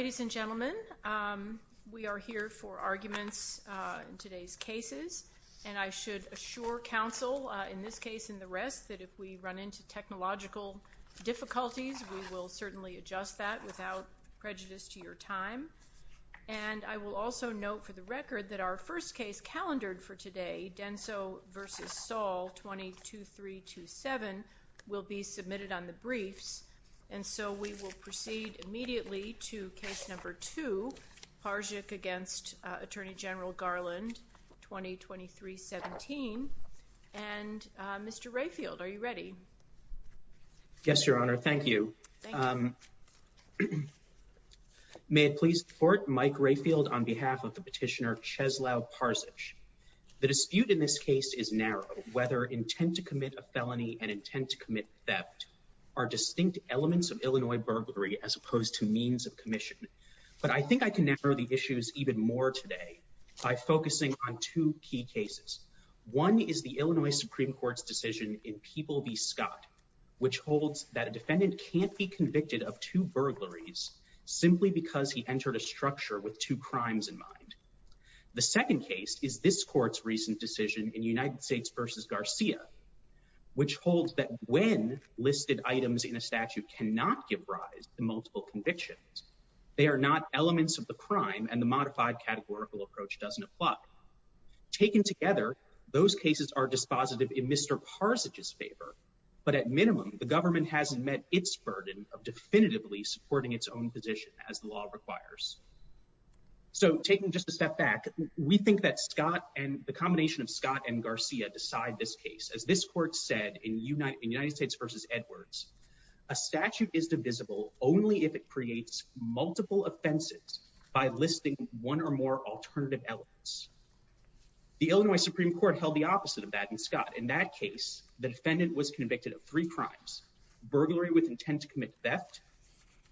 Ladies and gentlemen, we are here for arguments in today's cases, and I should assure counsel, in this case and the rest, that if we run into technological difficulties, we will certainly adjust that without prejudice to your time. And I will also note for the record that our first case calendared for today, Denso v. Saul 22327 will be submitted on the briefs, and so we will proceed immediately to case number two, Parzych v. Attorney General Garland 2023-17. And Mr. Rayfield, are you ready? Yes, Your Honor. Thank you. May it please the Court, Mike Rayfield on behalf of the petitioner Czeslaw Parzych. The dispute in this case is narrow, whether intent to commit a felony and intent to commit theft are distinct elements of Illinois burglary as opposed to means of commission. But I think I can narrow the issues even more today by focusing on two key cases. One is the Illinois Supreme Court's decision in People v. Scott, which holds that a defendant can't be convicted of two burglaries simply because he entered a structure with two crimes in mind. The second case is this Court's recent decision in United States v. Garcia, which holds that when listed items in a statute cannot give rise to multiple convictions, they are not elements of the crime and the modified categorical approach doesn't apply. Taken together, those cases are dispositive in Mr. Parzych's favor, but at minimum, the government hasn't met its burden of definitively supporting its own position as the law requires. So, taking just a step back, we think that Scott and the combination of Scott and Garcia decide this case. As this Court said in United States v. Edwards, a statute is divisible only if it creates multiple offenses by listing one or more alternative elements. The Illinois Supreme Court held the opposite of that in Scott. In that case, the defendant was convicted of three crimes, burglary with intent to commit theft,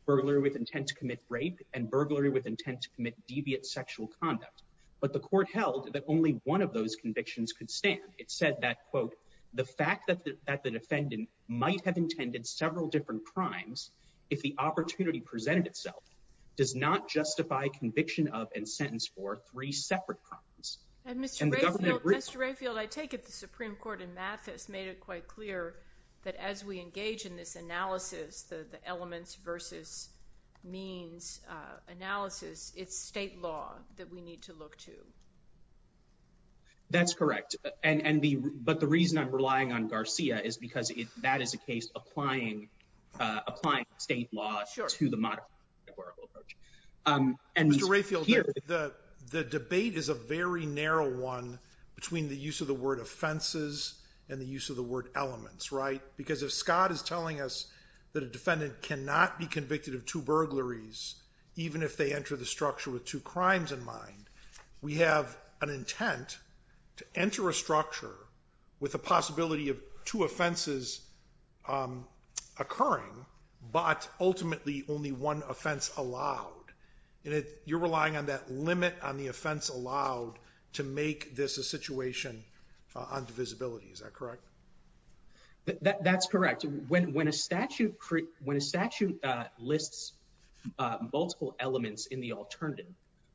burglary with intent to commit rape, and burglary with intent to commit deviant sexual conduct. But the Court held that only one of those convictions could stand. It said that, quote, the fact that the defendant might have intended several different crimes if the opportunity presented itself does not justify conviction of and sentence for three separate crimes. And the government— Mr. Rayfield, I take it the Supreme Court in Mathis made it quite clear that as we engage in this analysis, the elements v. means analysis, it's state law that we need to look to. That's correct. But the reason I'm relying on Garcia is because that is a case applying state law to the modification of the decorum approach. Sure. Mr. Rayfield, the debate is a very narrow one between the use of the word offenses and the use of the word elements, right? Because if Scott is telling us that a defendant cannot be convicted of two burglaries, even if they enter the structure with two crimes in mind, we have an intent to enter a structure with the possibility of two offenses occurring, but ultimately only one offense allowed. And you're relying on that limit on the offense allowed to make this a situation on divisibility. Is that correct? That's correct. When a statute lists multiple elements in the alternative,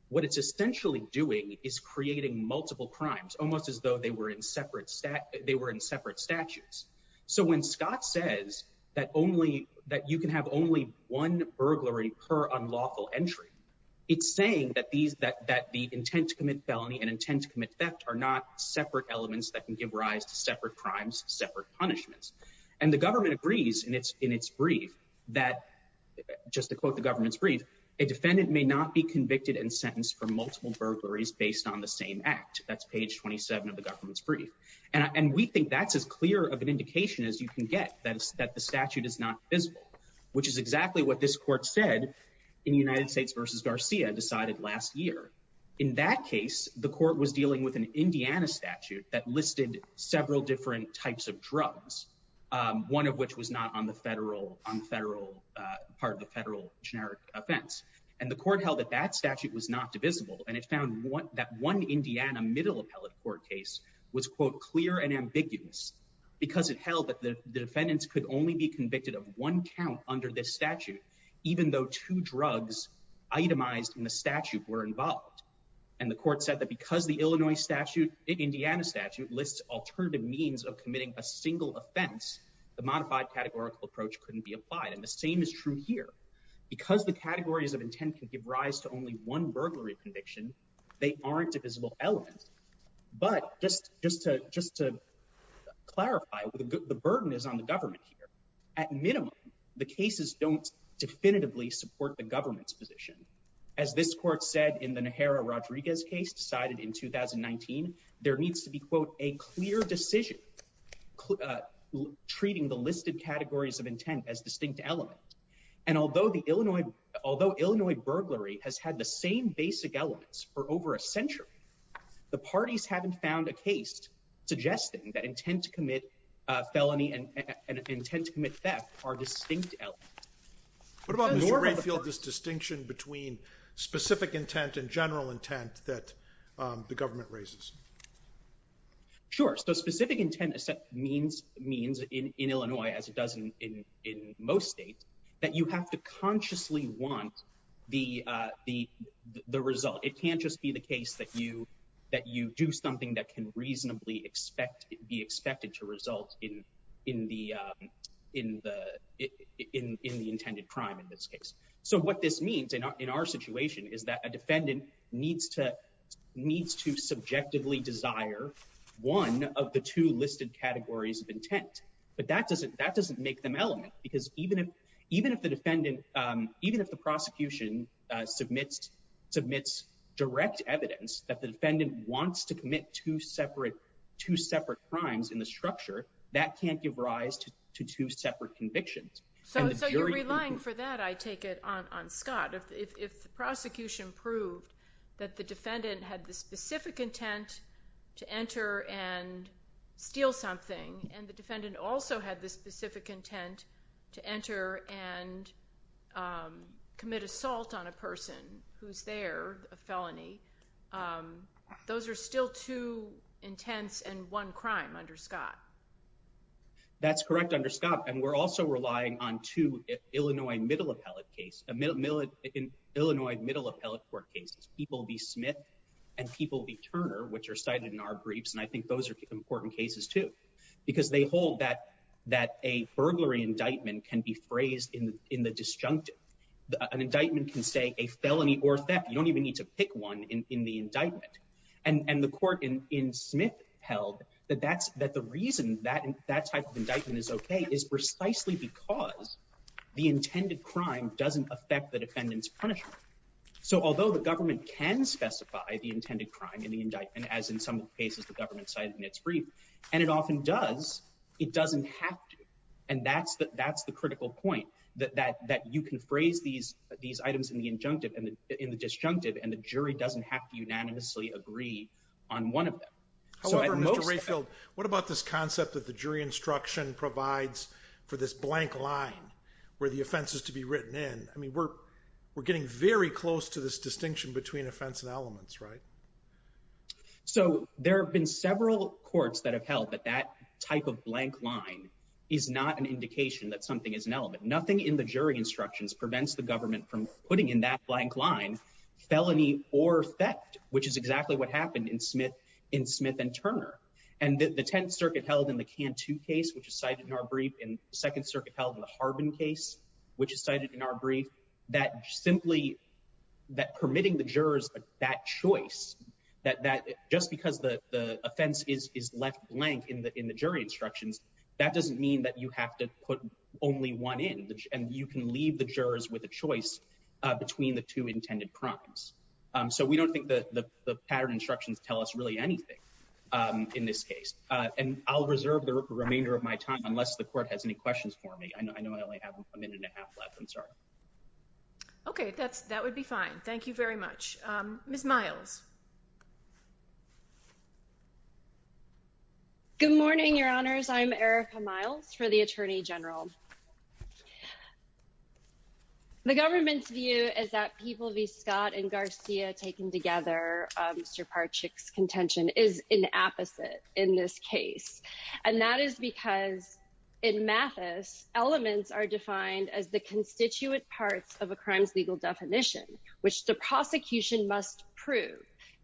what it's essentially doing is creating multiple crimes, almost as though they were in separate statutes. So when Scott says that you can have only one burglary per unlawful entry, it's saying that the intent to commit felony and intent to commit theft are not separate elements that can give rise to separate crimes, separate punishments. And the government agrees in its brief that, just to quote the government's brief, a defendant may not be convicted and sentenced for multiple burglaries based on the same act. That's page 27 of the government's brief. And we think that's as clear of an indication as you can get, that the statute is not visible, which is exactly what this court said in the United States versus Garcia decided last year. In that case, the court was dealing with an Indiana statute that listed several different types of drugs, one of which was not on the federal part of the federal generic offense. And the court held that that statute was not divisible. And it found that one Indiana middle appellate court case was, quote, clear and ambiguous because it held that the defendants could only be convicted of one count under this statute, even though two drugs itemized in the statute were involved. And the court said that because the Illinois statute, Indiana statute, lists alternative means of committing a single offense, the modified categorical approach couldn't be applied. And the same is true here. Because the categories of intent can give rise to only one burglary conviction, they aren't divisible elements. But just to clarify, the burden is on the government here. At minimum, the cases don't definitively support the government's position. As this court said, in the Najera-Rodriguez case decided in 2019, there needs to be, quote, a clear decision, treating the listed categories of intent as distinct elements. And although the Illinois, although Illinois burglary has had the same basic elements for over a century, the parties haven't found a case suggesting that intent to commit a felony and intent to commit theft are distinct elements. What about this distinction between specific intent and general intent that the government raises? Sure. So specific intent means in Illinois, as it does in most states, that you have to that you do something that can reasonably expect be expected to result in the intended crime in this case. So what this means in our situation is that a defendant needs to subjectively desire one of the two listed categories of intent. But that doesn't make them element because even if the defendant, even if the prosecution submits direct evidence that the defendant wants to commit two separate crimes in the structure, that can't give rise to two separate convictions. So you're relying for that, I take it, on Scott. If the prosecution proved that the defendant had the specific intent to enter and steal something, and the defendant also had the specific intent to enter and commit assault on a person who's there, a felony, those are still two intents and one crime under Scott. That's correct, under Scott. And we're also relying on two Illinois middle appellate case, Illinois middle appellate court cases, People v. Smith and People v. Turner, which are cited in our briefs. And I think those are important cases too, because they hold that a burglary indictment can be phrased in the disjunctive. An indictment can say a felony or theft. You don't need to pick one in the indictment. And the court in Smith held that the reason that type of indictment is okay is precisely because the intended crime doesn't affect the defendant's punishment. So although the government can specify the intended crime in the indictment, as in some cases the government cited in its brief, and it often does, it doesn't have to. And that's the jury doesn't have to unanimously agree on one of them. However, Mr. Rayfield, what about this concept that the jury instruction provides for this blank line where the offense is to be written in? I mean, we're getting very close to this distinction between offense and elements, right? So there have been several courts that have held that that type of blank line is not an indication that something is an element. Nothing in the jury instructions prevents the government from putting in that blank line felony or theft, which is exactly what happened in Smith and Turner. And the Tenth Circuit held in the Cantu case, which is cited in our brief, and the Second Circuit held in the Harbin case, which is cited in our brief, that simply permitting the jurors that choice, that just because the offense is left blank in the jury instructions, that doesn't mean that you have to put only one in, and you can leave the jurors with a choice between the two intended crimes. So we don't think that the pattern instructions tell us really anything in this case. And I'll reserve the remainder of my time unless the court has any questions for me. I know I only have a minute and a half left. I'm sorry. Okay, that's, that would be fine. Thank you very much. Ms. Miles. Good morning, Your Honors. I'm Erica Miles for the Attorney General. The government's view is that People v. Scott and Garcia taken together, Mr. Parchik's contention, is an opposite in this case. And that is because in Mathis, elements are defined as the constituent parts of a crime's legal definition, which the prosecution must prove,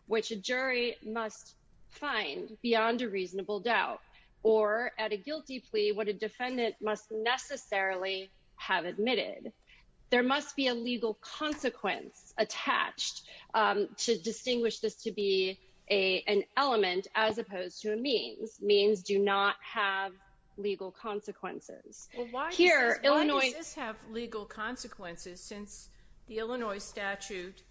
which a jury must find beyond a reasonable doubt, or at a guilty plea, what a defendant must necessarily have admitted. There must be a legal consequence attached to distinguish this to be an element as opposed to since the Illinois statute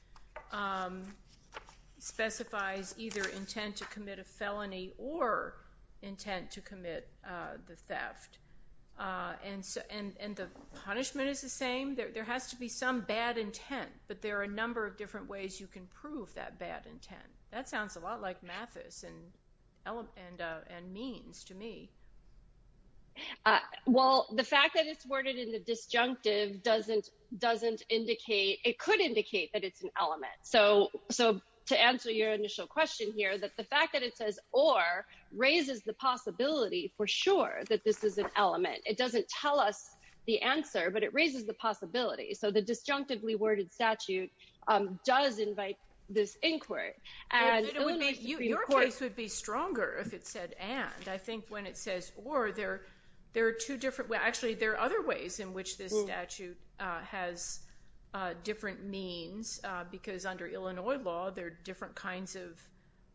specifies either intent to commit a felony or intent to commit the theft. And so, and the punishment is the same. There has to be some bad intent, but there are a number of different ways you can prove that bad intent. That sounds a lot like Mathis and means to me. Well, the fact that it's worded in the disjunctive doesn't, doesn't indicate, it could indicate that it's an element. So, so to answer your initial question here, that the fact that it says, or raises the possibility for sure that this is an element, it doesn't tell us the answer, but it raises the possibility. So the disjunctively worded statute does invite this inquiry. And it would be, your case would be stronger if it said, and I think when it says, or there, there are two different ways. Actually, there are other ways in which this statute has different means because under Illinois law, there are different kinds of,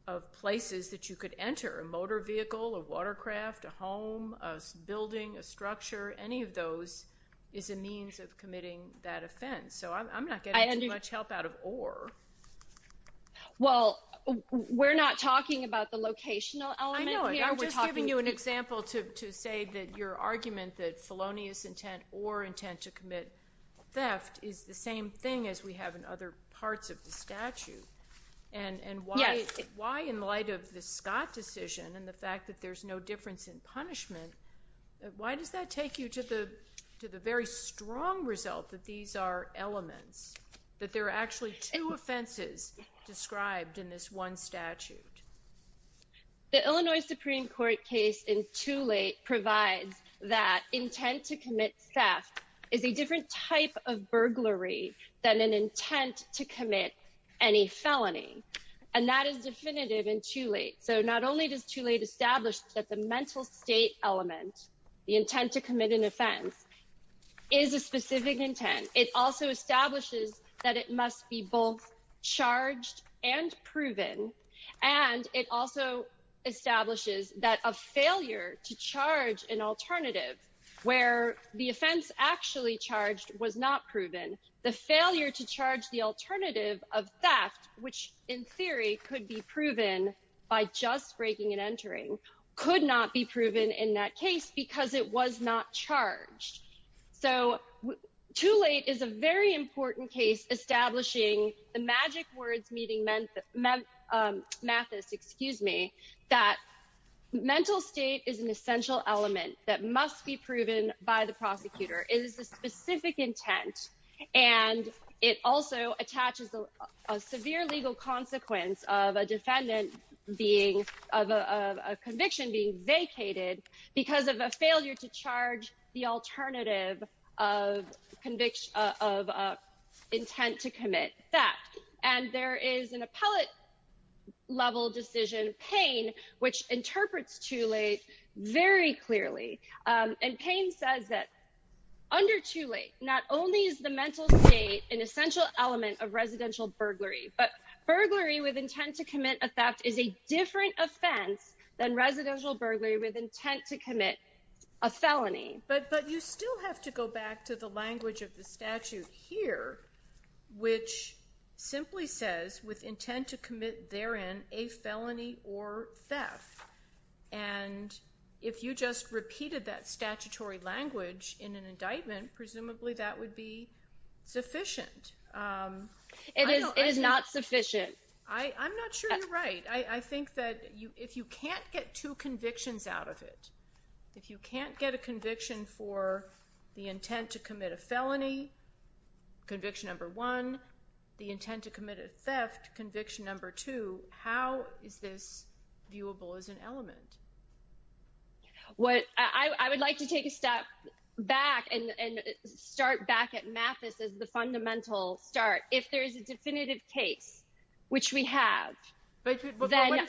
of places that you could enter a motor vehicle or watercraft, a home, a building, a structure, any of those is a means of committing that offense. So I'm not getting much help out of or. Well, we're not talking about the giving you an example to, to say that your argument that felonious intent or intent to commit theft is the same thing as we have in other parts of the statute. And, and why, why in light of the Scott decision and the fact that there's no difference in punishment, why does that take you to the, to the very strong result that these are elements, that there are actually two offenses described in this one statute? The Illinois Supreme court case in too late provides that intent to commit theft is a different type of burglary than an intent to commit any felony. And that is definitive in too late. So not only does too late established that the mental state element, the intent to commit an offense is a specific intent. It also establishes that it must be both charged and proven. And it also establishes that a failure to charge an alternative where the offense actually charged was not proven the failure to charge the alternative of theft, which in theory could be proven by just breaking and entering could not be proven in that case because it was not charged. So too late is a very important case, establishing the magic words meeting meant Mathis, excuse me, that mental state is an essential element that must be proven by the prosecutor is a specific intent. And it also attaches a severe legal consequence of a defendant being of a conviction being vacated because of a failure to charge the alternative of conviction of intent to commit theft. And there is an appellate level decision pain, which interprets too late, very clearly. And pain says that under too late, not only is the mental state an essential element of residential burglary, but burglary with intent to commit a theft is a different offense than residential burglary with intent to commit a felony. But, but you still have to go back to the language of the statute here, which simply says with intent to commit there in a felony or theft. And if you just repeated that statutory language in an indictment, presumably that would be sufficient. It is not sufficient. I'm not sure you're right. I think that you, if you can't get two convictions out of it, if you can't get a conviction for the intent to commit a felony conviction, number one, the intent to commit a theft conviction, number two, how is this an element? What I would like to take a step back and start back at Mathis as the fundamental start. If there is a definitive case, which we have, but then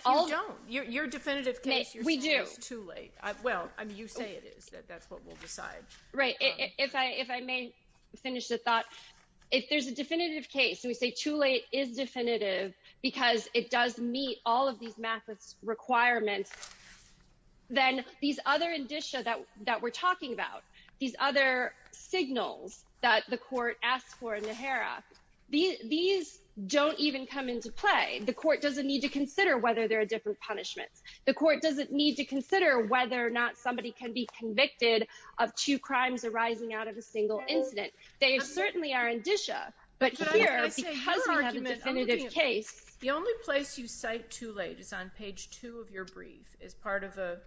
your definitive case, we do too late. Well, I mean, you say it is that that's what we'll decide, right? If I, if I may finish the thought, if there's a definitive case and we say too late is definitive because it does meet all of these requirements, then these other indicia that, that we're talking about, these other signals that the court asked for in the Hera, these don't even come into play. The court doesn't need to consider whether there are different punishments. The court doesn't need to consider whether or not somebody can be convicted of two crimes arising out of a single incident. They certainly are case. The only place you cite too late is on page two of your brief as part of a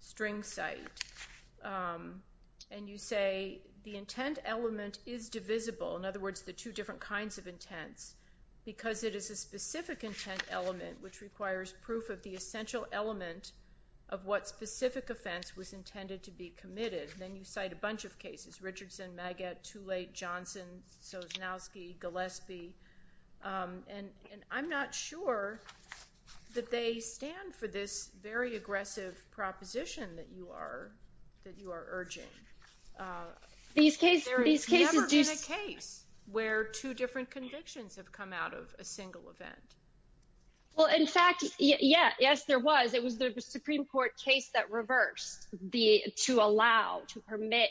string site. And you say the intent element is divisible. In other words, the two different kinds of intents, because it is a specific intent element, which requires proof of the essential element of what specific offense was intended to be committed. Then you cite a bunch of cases, Richardson, Maggette, too late, Johnson, Sosnowski, Gillespie. And, and I'm not sure that they stand for this very aggressive proposition that you are, that you are urging. These cases, these cases. There has never been a case where two different convictions have come out of a single event. Well, in fact, yeah, yes, there was, it was the Supreme Court case that the, to allow, to permit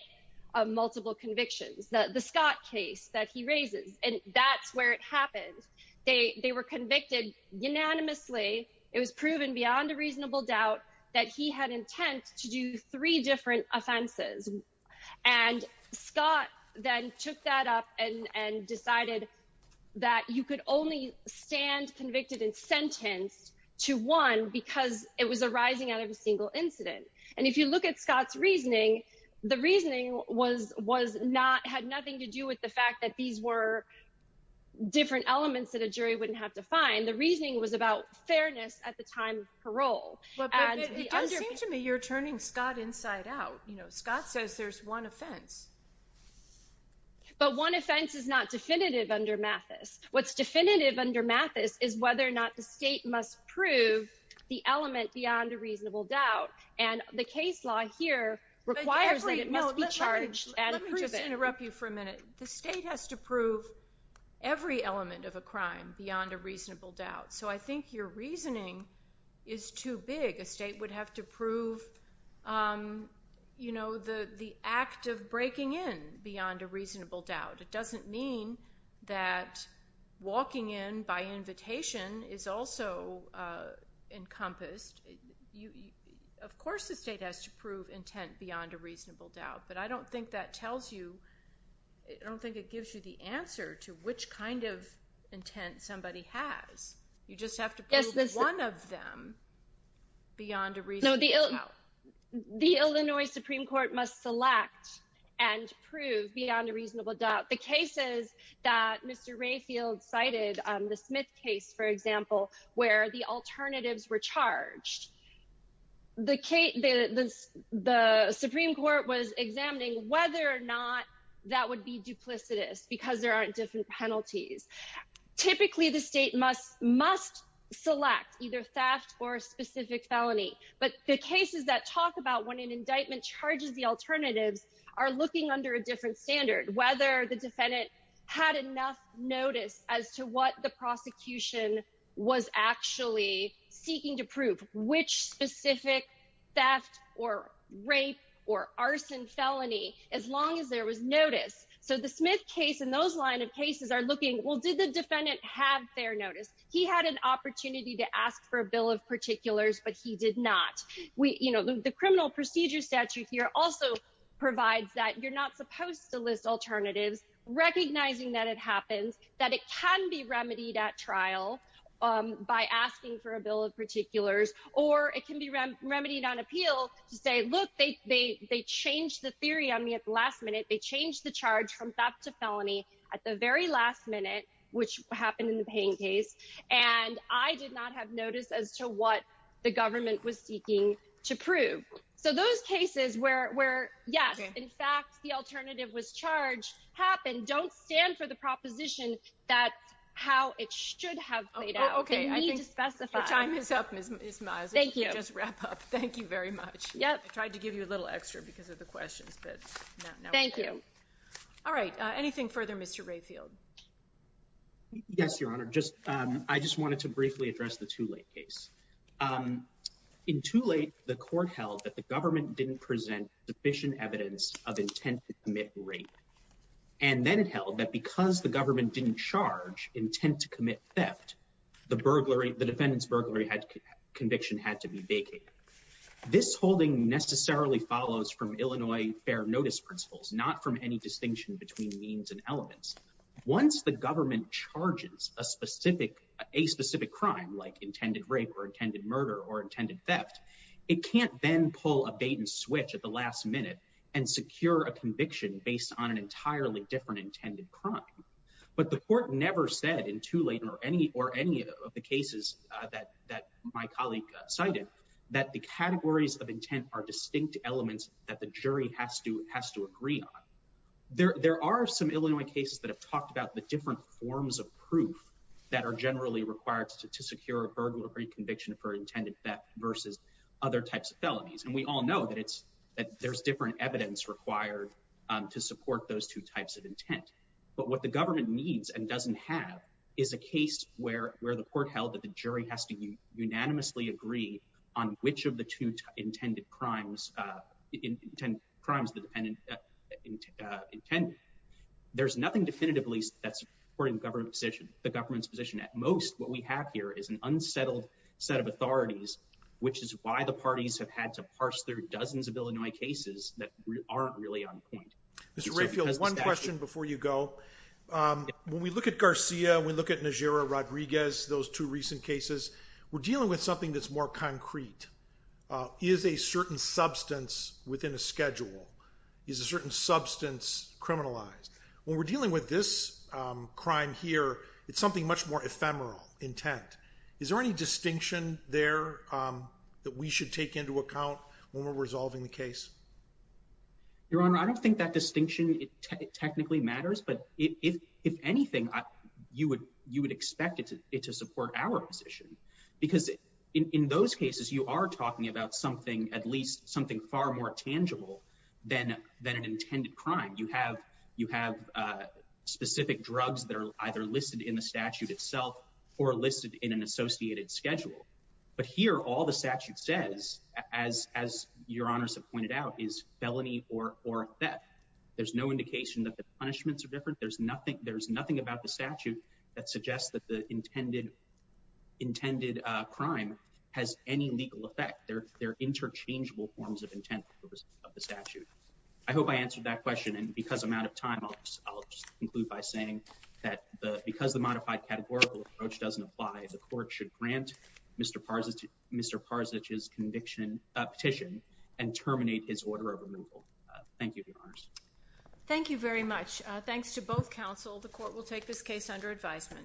a multiple convictions that the Scott case that he raises, and that's where it happened. They, they were convicted unanimously. It was proven beyond a reasonable doubt that he had intent to do three different offenses. And Scott then took that up and, and decided that you could only stand convicted and sentenced to one because it was arising out of a And if you look at Scott's reasoning, the reasoning was, was not, had nothing to do with the fact that these were different elements that a jury wouldn't have to find. The reasoning was about fairness at the time of parole. It does seem to me you're turning Scott inside out. You know, Scott says there's one offense. But one offense is not definitive under Mathis. What's definitive under Mathis is whether or not the state must prove the element beyond a the case law here requires that it must be charged. Let me just interrupt you for a minute. The state has to prove every element of a crime beyond a reasonable doubt. So I think your reasoning is too big. A state would have to prove, you know, the, the act of breaking in beyond a reasonable doubt. It doesn't mean that walking in by invitation is also encompassed. You, of course, the state has to prove intent beyond a reasonable doubt, but I don't think that tells you, I don't think it gives you the answer to which kind of intent somebody has. You just have to prove one of them beyond a reasonable doubt. The Illinois Supreme Court must select and prove beyond a reasonable doubt. The cases that Mr. Rayfield cited, the Smith case, for example, where the alternatives were charged, the Supreme Court was examining whether or not that would be duplicitous because there aren't different penalties. Typically, the state must must select either theft or a specific felony. But the cases that talk about when an indictment charges the alternatives are looking under a different standard, whether the defendant had enough notice as to what the prosecution was actually seeking to prove, which specific theft or rape or arson felony, as long as there was notice. So the Smith case and those line of cases are looking, well, did the defendant have their notice? He had an opportunity to ask for a bill of particulars, but he did not. We, you know, the criminal procedure statute here also provides that you're not supposed to list alternatives, recognizing that it happens, that it can be remedied at trial by asking for a bill of particulars, or it can be remedied on appeal to say, look, they changed the theory on me at the last minute. They changed the charge from theft to felony at the very last minute, which happened in the Payne case. And I did not have notice as to what the government was seeking to prove. So those cases where, yes, in fact, the alternative was charged happened, don't stand for the proposition that how it should have played out. Okay. I need to specify time is up. Thank you. Just wrap up. Thank you very much. Yep. I tried to give you a little extra because of the questions, but thank you. All right. Anything further, Mr. Rayfield? Yes, Your Honor. Just, um, I just wanted to briefly address the too late case. Um, in too late, the court held that the government didn't present sufficient evidence of intent to commit rape. And then it held that because the government didn't charge intent to commit theft, the burglary, the defendant's burglary had conviction had to be vacated. This holding necessarily follows from Illinois fair notice principles, not from any distinction between means and elements. Once the government charges a specific, a specific crime, like intended rape or intended murder or intended theft, it can't then pull a bait and switch at the last minute and secure a conviction based on an entirely different intended crime. But the court never said in too late or any, or any of the cases that, that my colleague cited that the categories of some Illinois cases that have talked about the different forms of proof that are generally required to, to secure a burglary conviction for intended theft versus other types of felonies. And we all know that it's, that there's different evidence required, um, to support those two types of intent, but what the government needs and doesn't have is a case where, where the court held that the jury has to unanimously agree on which of the two intended crimes, uh, intended crimes, the dependent, uh, intent. There's nothing definitively that's supporting the government position, the government's position. At most, what we have here is an unsettled set of authorities, which is why the parties have had to parse through dozens of Illinois cases that aren't really on point. Mr. Redfield, one question before you go. Um, when we look at Garcia, we look at Najera Rodriguez, those two recent cases, we're dealing with something that's more concrete, uh, is a certain substance within a schedule is a certain substance criminalized when we're dealing with this, um, crime here, it's something much more ephemeral intent. Is there any distinction there, um, that we should take into account when we're resolving the case? Your Honor, I don't think that distinction technically matters, but if, if, if anything, you would, you would expect it to, it to support our position because in, in those cases, you are talking about something, at least something far more tangible than, than an intended crime. You have, you have, uh, specific drugs that are either listed in the statute itself or listed in an associated schedule. But here, all the statute says, as, as your honors have pointed out is felony or, or that there's no indication that the punishments are different. There's nothing, there's nothing about the statute that suggests that the intended, intended, uh, crime has any legal effect. They're, they're interchangeable forms of intent of the statute. I hope I answered that question and because I'm out of time, I'll just, I'll just conclude by saying that the, because the modified categorical approach doesn't apply, the court should grant Mr. Parzich, Mr. Parzich's conviction, uh, petition and terminate his order of removal. Uh, thank you, your honors. Thank you very much. Uh, thanks to both counsel. The court will take this case under advisement.